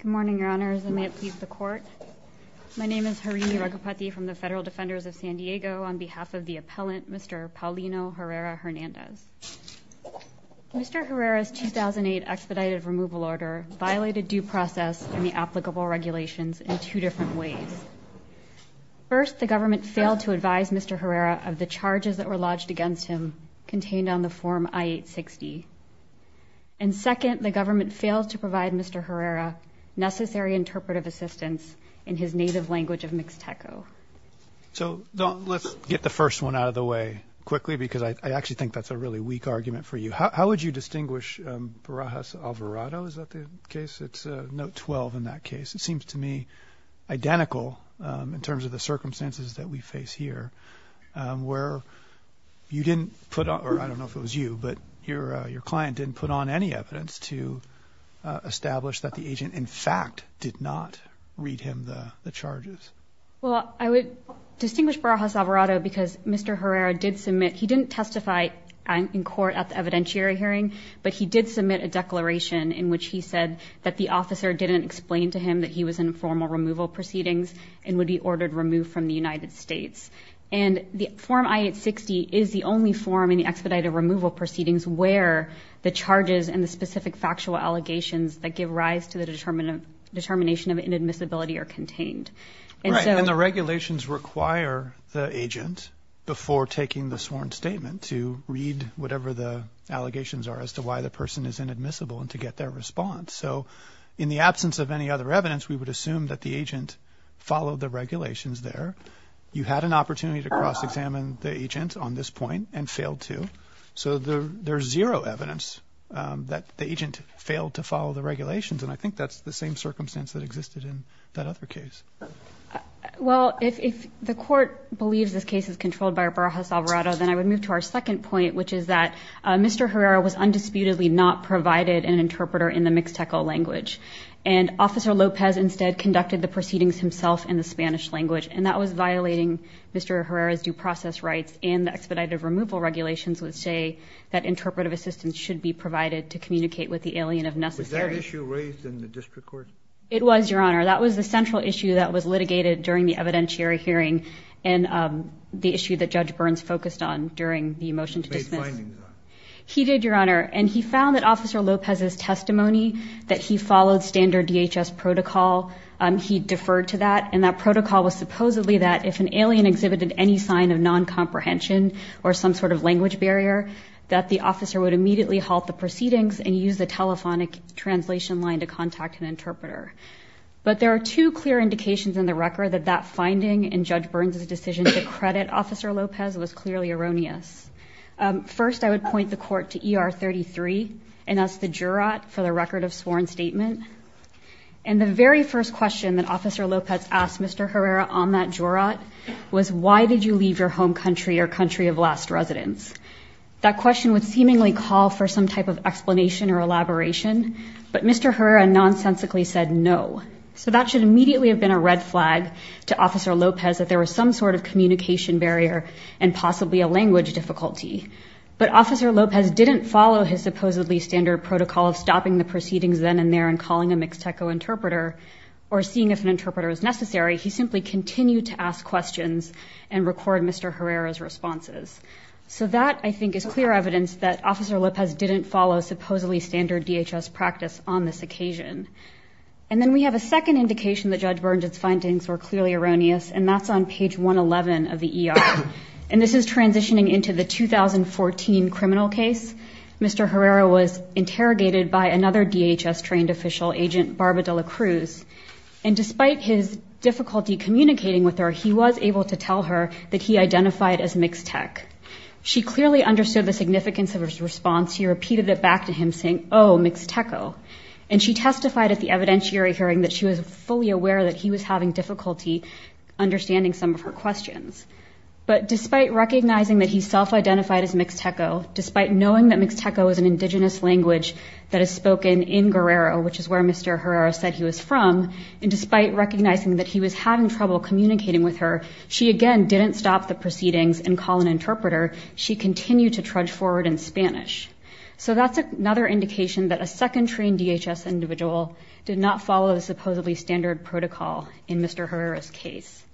Good morning, Your Honors, and may it please the Court. My name is Harini Raghupathy from the Federal Defenders of San Diego. On behalf of the appellant, Mr. Paulino Herrera-Hernandez. Mr. Herrera's 2008 expedited removal order violated due process and the applicable regulations in two different ways. First, the government failed to advise Mr. Herrera of the charges that were lodged against him contained on the Form I-860. And second, the government failed to provide Mr. Herrera necessary interpretive assistance in his native language of Mixteco. So let's get the first one out of the way quickly because I actually think that's a really weak argument for you. How would you distinguish Barajas Alvarado? Is that the case? It's note 12 in that case. It seems to me identical in terms of the circumstances that we face here where you didn't put on, or I don't know if it was you, but your client didn't put on any evidence to establish that the agent in fact did not read him the charges. Well, I would distinguish Barajas Alvarado because Mr. Herrera did submit, he didn't testify in court at the evidentiary hearing, but he did submit a declaration in which he said that the officer didn't explain to him that he was in formal removal proceedings and would be ordered removed from the United States. And the Form I-860 is the only form in the expedited removal proceedings where the charges and the specific factual allegations that give rise to the determination of inadmissibility are contained. Right, and the regulations require the agent before taking the sworn statement to read whatever the allegations are as to why the person is inadmissible and to get their response. So in the absence of any other evidence, we would assume that the agent followed the regulations there. You had an opportunity to cross-examine the agent on this point and failed to. So there's zero evidence that the agent failed to follow the regulations, and I think that's the same circumstance that existed in that other case. Well, if the court believes this case is controlled by Barajas Alvarado, then I would move to our second point, which is that Mr. Herrera was undisputedly not provided an interpreter in the Mixteco language, and Officer Lopez instead conducted the proceedings himself in the Spanish language, and that was violating Mr. Herrera's due process rights, and the expedited removal regulations would say that interpretive assistance should be provided to communicate with the alien if necessary. Was that issue raised in the district court? It was, Your Honor. That was the central issue that was litigated during the evidentiary hearing and the issue that Judge Burns focused on during the motion to dismiss. He made findings on it. He did, Your Honor, and he found that Officer Lopez's testimony that he followed standard DHS protocol, he deferred to that, and that protocol was supposedly that if an alien exhibited any sign of non-comprehension or some sort of language barrier, that the officer would immediately halt the proceedings and use the telephonic translation line to contact an interpreter. But there are two clear indications in the record that that finding and Judge Burns's decision to credit Officer Lopez was clearly erroneous. First, I would point the court to ER 33, and that's the jurat for the record of sworn statement, and the very first question that Officer Lopez asked Mr. Herrera on that jurat was, why did you leave your home country or country of last residence? That question would seemingly call for some type of explanation or elaboration, but Mr. Herrera nonsensically said no. So that should immediately have been a red flag to Officer Lopez that there was some sort of communication barrier and possibly a language difficulty. But Officer Lopez didn't follow his supposedly standard protocol of stopping the proceedings then and there and calling a mixteco interpreter or seeing if an interpreter was necessary. He simply continued to ask questions and record Mr. Herrera's responses. So that, I think, is clear evidence that Officer Lopez didn't follow supposedly standard DHS practice on this occasion. And then we have a second indication that Judge Burns's findings were clearly erroneous, and that's on page 111 of the ER, and this is transitioning into the 2014 criminal case. Mr. Herrera was interrogated by another DHS-trained official, Agent Barba de la Cruz, and despite his difficulty communicating with her, he was able to tell her that he identified as mixtec. She clearly understood the significance of his response. He repeated it back to him saying, oh, mixteco, and she testified at the evidentiary hearing that she was fully aware that he was having difficulty understanding some of her questions. But despite recognizing that he self-identified as mixteco, despite knowing that mixteco is an indigenous language that is spoken in Guerrero, which is where Mr. Herrera said he was from, and despite recognizing that he was having trouble communicating with her, she again didn't stop the proceedings and call an interpreter. She continued to trudge forward in Spanish. So that's another indication that a second-trained DHS individual did not follow the supposedly standard protocol in Mr. Herrera's case.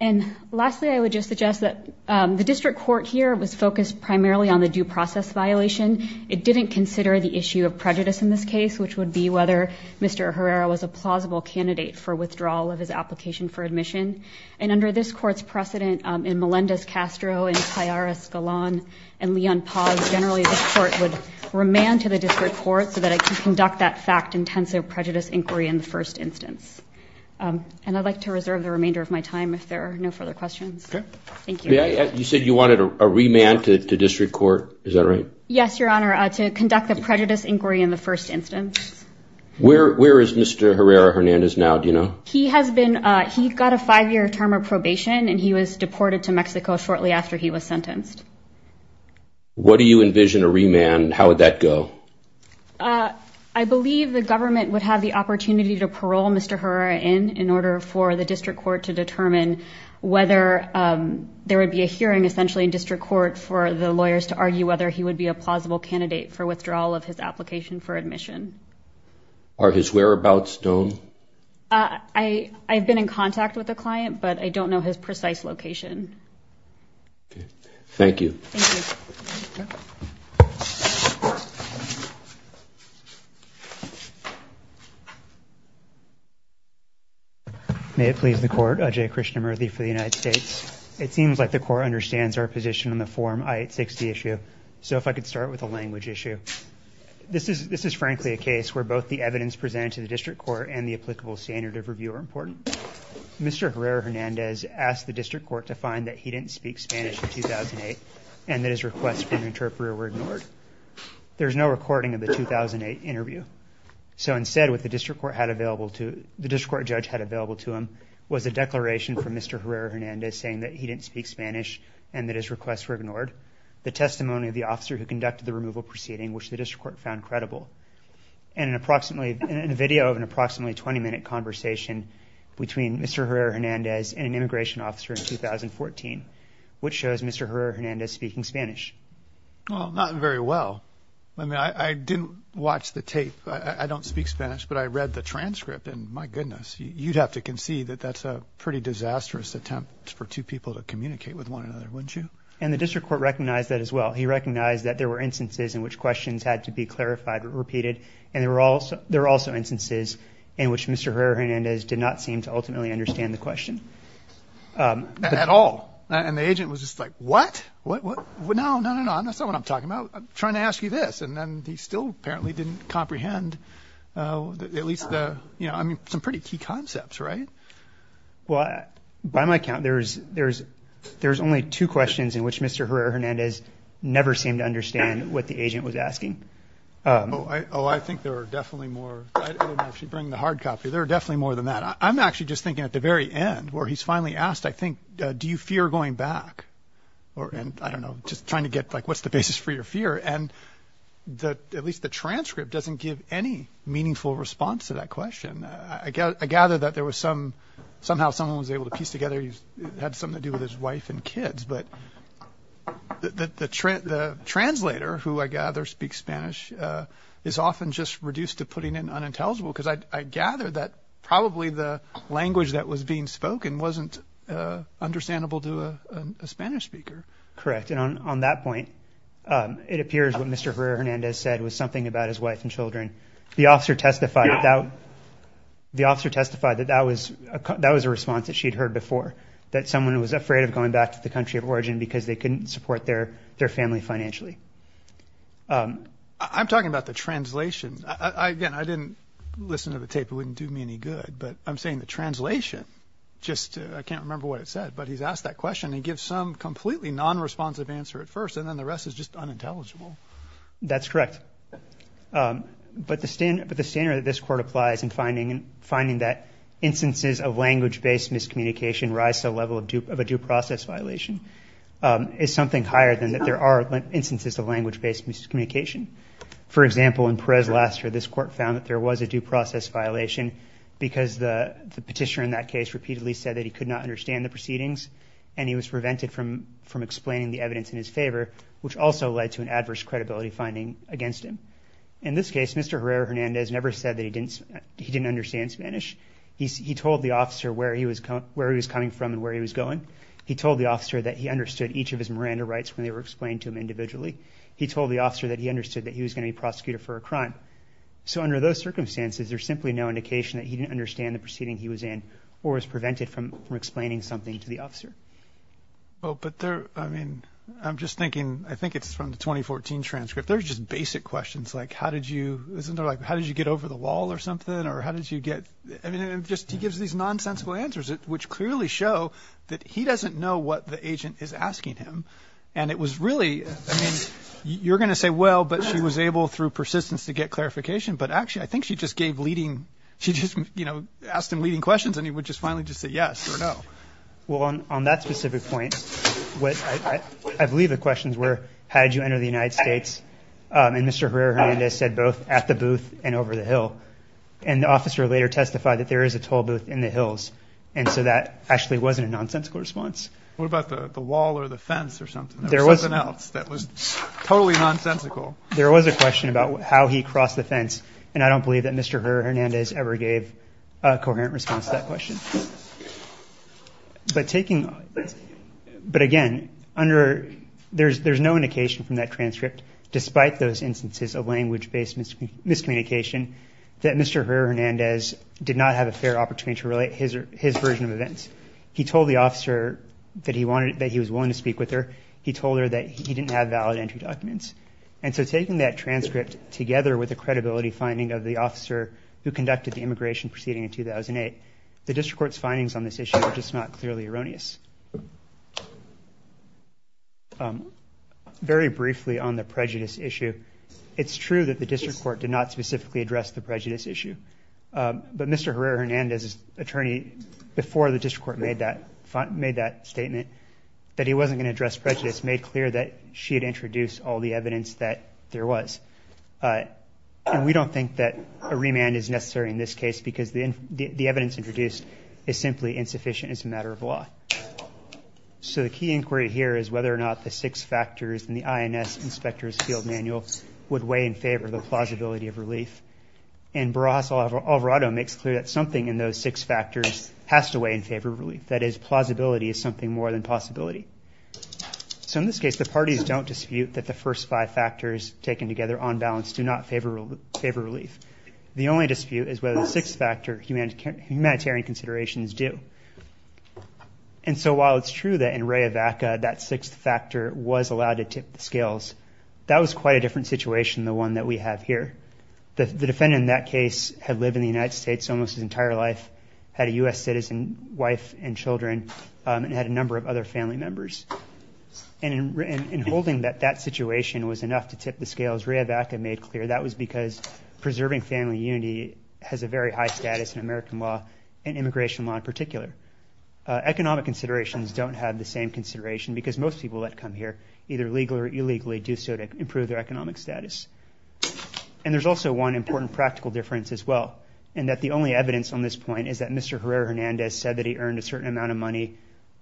And lastly, I would just suggest that the district court here was focused primarily on the due process violation. It didn't consider the issue of prejudice in this case, which would be whether Mr. Herrera was a plausible candidate for withdrawal of his application for admission. And under this court's precedent, in Melendez-Castro, in Tayar Escalon, and Leon Paz, generally the court would remand to the district court so that it could conduct that fact-intensive prejudice inquiry in the first instance. And I'd like to reserve the remainder of my time if there are no further questions. Thank you. You said you wanted a remand to district court, is that right? Yes, Your Honor, to conduct the prejudice inquiry in the first instance. Where is Mr. Herrera-Hernandez now, do you know? He got a five-year term of probation, and he was deported to Mexico shortly after he was sentenced. What do you envision a remand, and how would that go? I believe the government would have the opportunity to parole Mr. Herrera in, in order for the district court to determine whether there would be a hearing, essentially, in district court for the lawyers to argue whether he would be a plausible candidate for withdrawal of his application for admission. Are his whereabouts known? I've been in contact with the client, but I don't know his precise location. Thank you. Thank you. May it please the Court, J. Krishnamurthy for the United States. It seems like the Court understands our position on the Form I-860 issue, so if I could start with a language issue. This is frankly a case where both the evidence presented to the district court and the applicable standard of review are important. Mr. Herrera-Hernandez asked the district court to find that he didn't speak Spanish in 2008 and that his requests for an interpreter were ignored. There's no recording of the 2008 interview, so instead what the district court judge had available to him was a declaration from Mr. Herrera-Hernandez saying that he didn't speak Spanish and that his requests were ignored, the testimony of the officer who conducted the removal proceeding, which the district court found credible, and a video of an approximately 20-minute conversation between Mr. Herrera-Hernandez and an immigration officer in 2014, which shows Mr. Herrera-Hernandez speaking Spanish. Well, not very well. I didn't watch the tape. I don't speak Spanish, but I read the transcript, and my goodness. You'd have to concede that that's a pretty disastrous attempt for two people to communicate with one another, wouldn't you? And the district court recognized that as well. He recognized that there were instances in which questions had to be clarified or repeated, and there were also instances in which Mr. Herrera-Hernandez did not seem to ultimately understand the question. Not at all. And the agent was just like, what? No, no, no, that's not what I'm talking about. I'm trying to ask you this. And then he still apparently didn't comprehend at least the, you know, I mean, some pretty key concepts, right? Well, by my count, there's only two questions in which Mr. Herrera-Hernandez never seemed to understand what the agent was asking. Oh, I think there are definitely more. I didn't actually bring the hard copy. There are definitely more than that. I'm actually just thinking at the very end where he's finally asked, I think, do you fear going back? And I don't know, just trying to get, like, what's the basis for your fear? And at least the transcript doesn't give any meaningful response to that question. I gather that there was some, somehow someone was able to piece together, had something to do with his wife and kids. But the translator, who I gather speaks Spanish, is often just reduced to putting in unintelligible because I gather that probably the language that was being spoken wasn't understandable to a Spanish speaker. Correct. And on that point, it appears what Mr. Herrera-Hernandez said was something about his wife and children. The officer testified that that was a response that she had heard before, that someone was afraid of going back to the country of origin because they couldn't support their family financially. I'm talking about the translation. Again, I didn't listen to the tape. It wouldn't do me any good. But I'm saying the translation, just I can't remember what it said, but he's asked that question and gives some completely non-responsive answer at first, and then the rest is just unintelligible. That's correct. But the standard that this Court applies in finding that instances of language-based miscommunication rise to the level of a due process violation is something higher than that there are instances of language-based miscommunication. For example, in Perez-Laster, this Court found that there was a due process violation because the petitioner in that case repeatedly said that he could not understand the proceedings and he was prevented from explaining the evidence in his favor, which also led to an adverse credibility finding against him. In this case, Mr. Herrera-Hernandez never said that he didn't understand Spanish. He told the officer where he was coming from and where he was going. He told the officer that he understood each of his Miranda rights when they were explained to him individually. He told the officer that he understood that he was going to be prosecuted for a crime. So under those circumstances, there's simply no indication that he didn't understand the proceeding he was in or was prevented from explaining something to the officer. But there, I mean, I'm just thinking, I think it's from the 2014 transcript, there's just basic questions like how did you, isn't there, like, how did you get over the wall or something, or how did you get, I mean, it just gives these nonsensical answers, which clearly show that he doesn't know what the agent is asking him. And it was really, I mean, you're going to say, well, but she was able through persistence to get clarification. But actually, I think she just gave leading, she just, you know, asked him leading questions and he would just finally just say yes or no. Well, on that specific point, I believe the questions were, how did you enter the United States? And Mr. Herrera-Hernandez said both at the booth and over the hill. And the officer later testified that there is a toll booth in the hills. And so that actually wasn't a nonsensical response. What about the wall or the fence or something? Something else that was totally nonsensical. There was a question about how he crossed the fence, and I don't believe that Mr. Herrera-Hernandez ever gave a coherent response to that question. But taking, but again, under, there's no indication from that transcript, despite those instances of language-based miscommunication, that Mr. Herrera-Hernandez did not have a fair opportunity to relate his version of events. He told the officer that he wanted, that he was willing to speak with her. He told her that he didn't have valid entry documents. And so taking that transcript together with the credibility finding of the officer who conducted the immigration proceeding in 2008, the district court's findings on this issue are just not clearly erroneous. Very briefly on the prejudice issue, it's true that the district court did not specifically address the prejudice issue. But Mr. Herrera-Hernandez's attorney, before the district court made that statement, that he wasn't going to address prejudice, made clear that she had introduced all the evidence that there was. And we don't think that a remand is necessary in this case because the evidence introduced is simply insufficient as a matter of law. So the key inquiry here is whether or not the six factors in the INS inspector's field manual would weigh in favor of the plausibility of relief. And Barras Alvarado makes clear that something in those six factors has to weigh in favor of relief. That is, plausibility is something more than possibility. So in this case, the parties don't dispute that the first five factors taken together on balance do not favor relief. The only dispute is whether the sixth factor, humanitarian considerations, do. And so while it's true that in Ray Evaca, that sixth factor was allowed to tip the scales, that was quite a different situation than the one that we have here. The defendant in that case had lived in the United States almost his entire life, had a U.S. citizen wife and children, and had a number of other family members. And in holding that that situation was enough to tip the scales, Ray Evaca made clear that was because preserving family unity has a very high status in American law and immigration law in particular. Economic considerations don't have the same consideration because most people that come here, either legally or illegally, do so to improve their economic status. And there's also one important practical difference as well, and that the only evidence on this point is that Mr. Herrera-Hernandez said that he earned a certain amount of money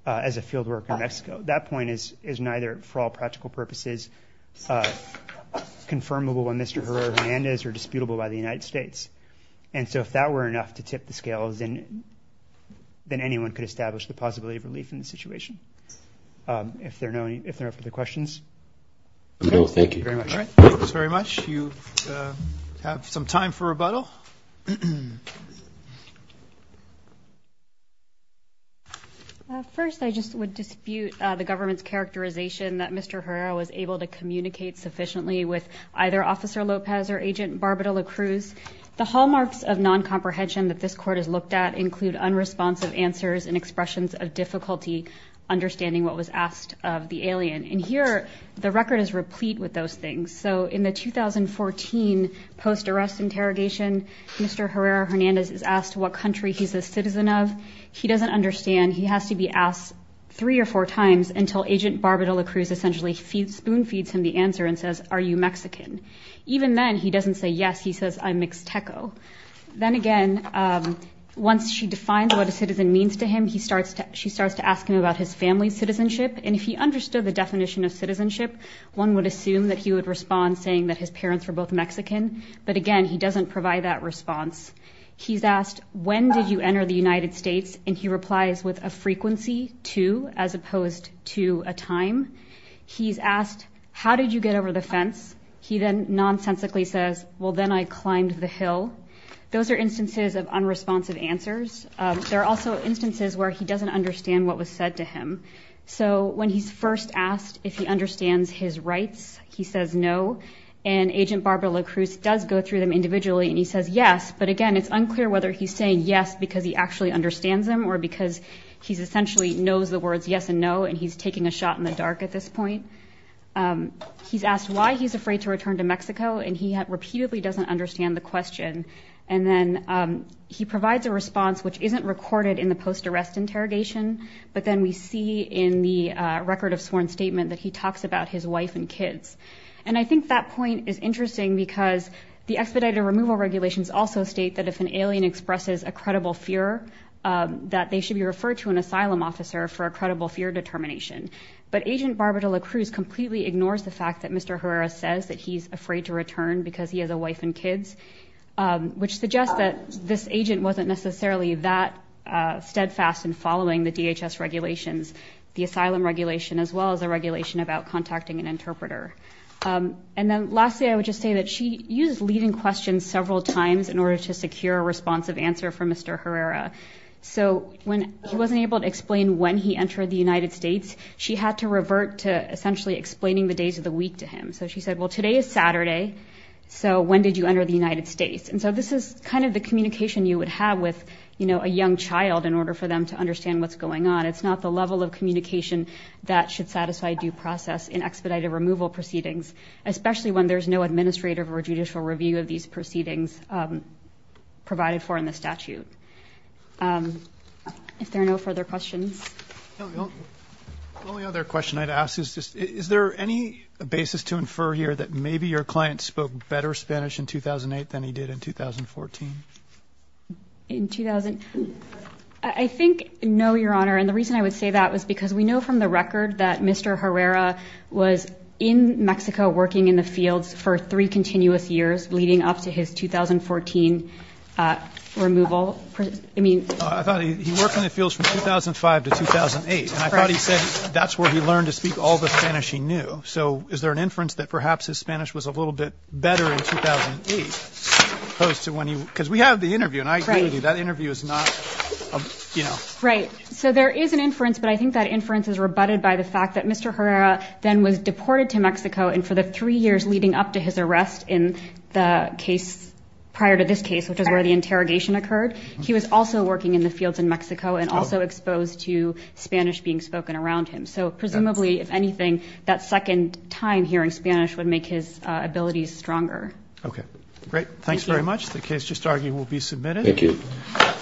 as a field worker in Mexico. That point is neither, for all practical purposes, confirmable by Mr. Herrera-Hernandez or disputable by the United States. And so if that were enough to tip the scales, then anyone could establish the possibility of relief in the situation. If there are no further questions. Thank you very much. All right, thanks very much. You have some time for rebuttal. First, I just would dispute the government's characterization that Mr. Herrera was able to communicate sufficiently with either Officer Lopez or Agent Barbara La Cruz. The hallmarks of noncomprehension that this court has looked at include unresponsive answers and expressions of difficulty understanding what was asked of the alien. And here, the record is replete with those things. So in the 2014 post-arrest interrogation, Mr. Herrera-Hernandez is asked what country he's a citizen of. He doesn't understand. He has to be asked three or four times until Agent Barbara La Cruz essentially spoon-feeds him the answer and says, are you Mexican? Even then, he doesn't say yes. He says, I'm mixteco. Then again, once she defines what a citizen means to him, she starts to ask him about his family's citizenship. And if he understood the definition of citizenship, one would assume that he would respond saying that his parents were both Mexican. But again, he doesn't provide that response. He's asked, when did you enter the United States? And he replies with a frequency, two, as opposed to a time. He's asked, how did you get over the fence? He then nonsensically says, well, then I climbed the hill. Those are instances of unresponsive answers. There are also instances where he doesn't understand what was said to him. So when he's first asked if he understands his rights, he says no. And Agent Barbara La Cruz does go through them individually, and he says yes. But again, it's unclear whether he's saying yes because he actually understands them or because he essentially knows the words yes and no, and he's taking a shot in the dark at this point. He's asked why he's afraid to return to Mexico, and he repeatedly doesn't understand the question. And then he provides a response which isn't recorded in the post-arrest interrogation, but then we see in the record of sworn statement that he talks about his wife and kids. And I think that point is interesting because the expedited removal regulations also state that if an alien expresses a credible fear, that they should be referred to an asylum officer for a credible fear determination. But Agent Barbara La Cruz completely ignores the fact that Mr. Herrera says that he's afraid to return because he has a wife and kids, which suggests that this agent wasn't necessarily that steadfast in following the DHS regulations, the asylum regulation, as well as the regulation about contacting an interpreter. And then lastly, I would just say that she used leading questions several times in order to secure a responsive answer from Mr. Herrera. So when he wasn't able to explain when he entered the United States, she had to revert to essentially explaining the days of the week to him. So she said, well, today is Saturday, so when did you enter the United States? And so this is kind of the communication you would have with, you know, a young child in order for them to understand what's going on. It's not the level of communication that should satisfy due process in expedited removal proceedings, especially when there's no administrative or judicial review of these proceedings provided for in the statute. If there are no further questions. The only other question I'd ask is just, is there any basis to infer here that maybe your client spoke better Spanish in 2008 than he did in 2014? In 2000, I think no, Your Honor. And the reason I would say that was because we know from the record that Mr. Herrera was in Mexico working in the fields for three continuous years leading up to his 2014 removal. I thought he worked in the fields from 2005 to 2008. And I thought he said that's where he learned to speak all the Spanish he knew. So is there an inference that perhaps his Spanish was a little bit better in 2008? Because we have the interview, and I agree with you, that interview is not, you know. Right. So there is an inference, but I think that inference is rebutted by the fact that Mr. Herrera then was deported to Mexico and for the three years leading up to his arrest in the case prior to this case, which is where the interrogation occurred, he was also working in the fields in Mexico and also exposed to Spanish being spoken around him. So presumably, if anything, that second time hearing Spanish would make his abilities stronger. Okay, great. Thanks very much. The case just argued will be submitted. Thank you.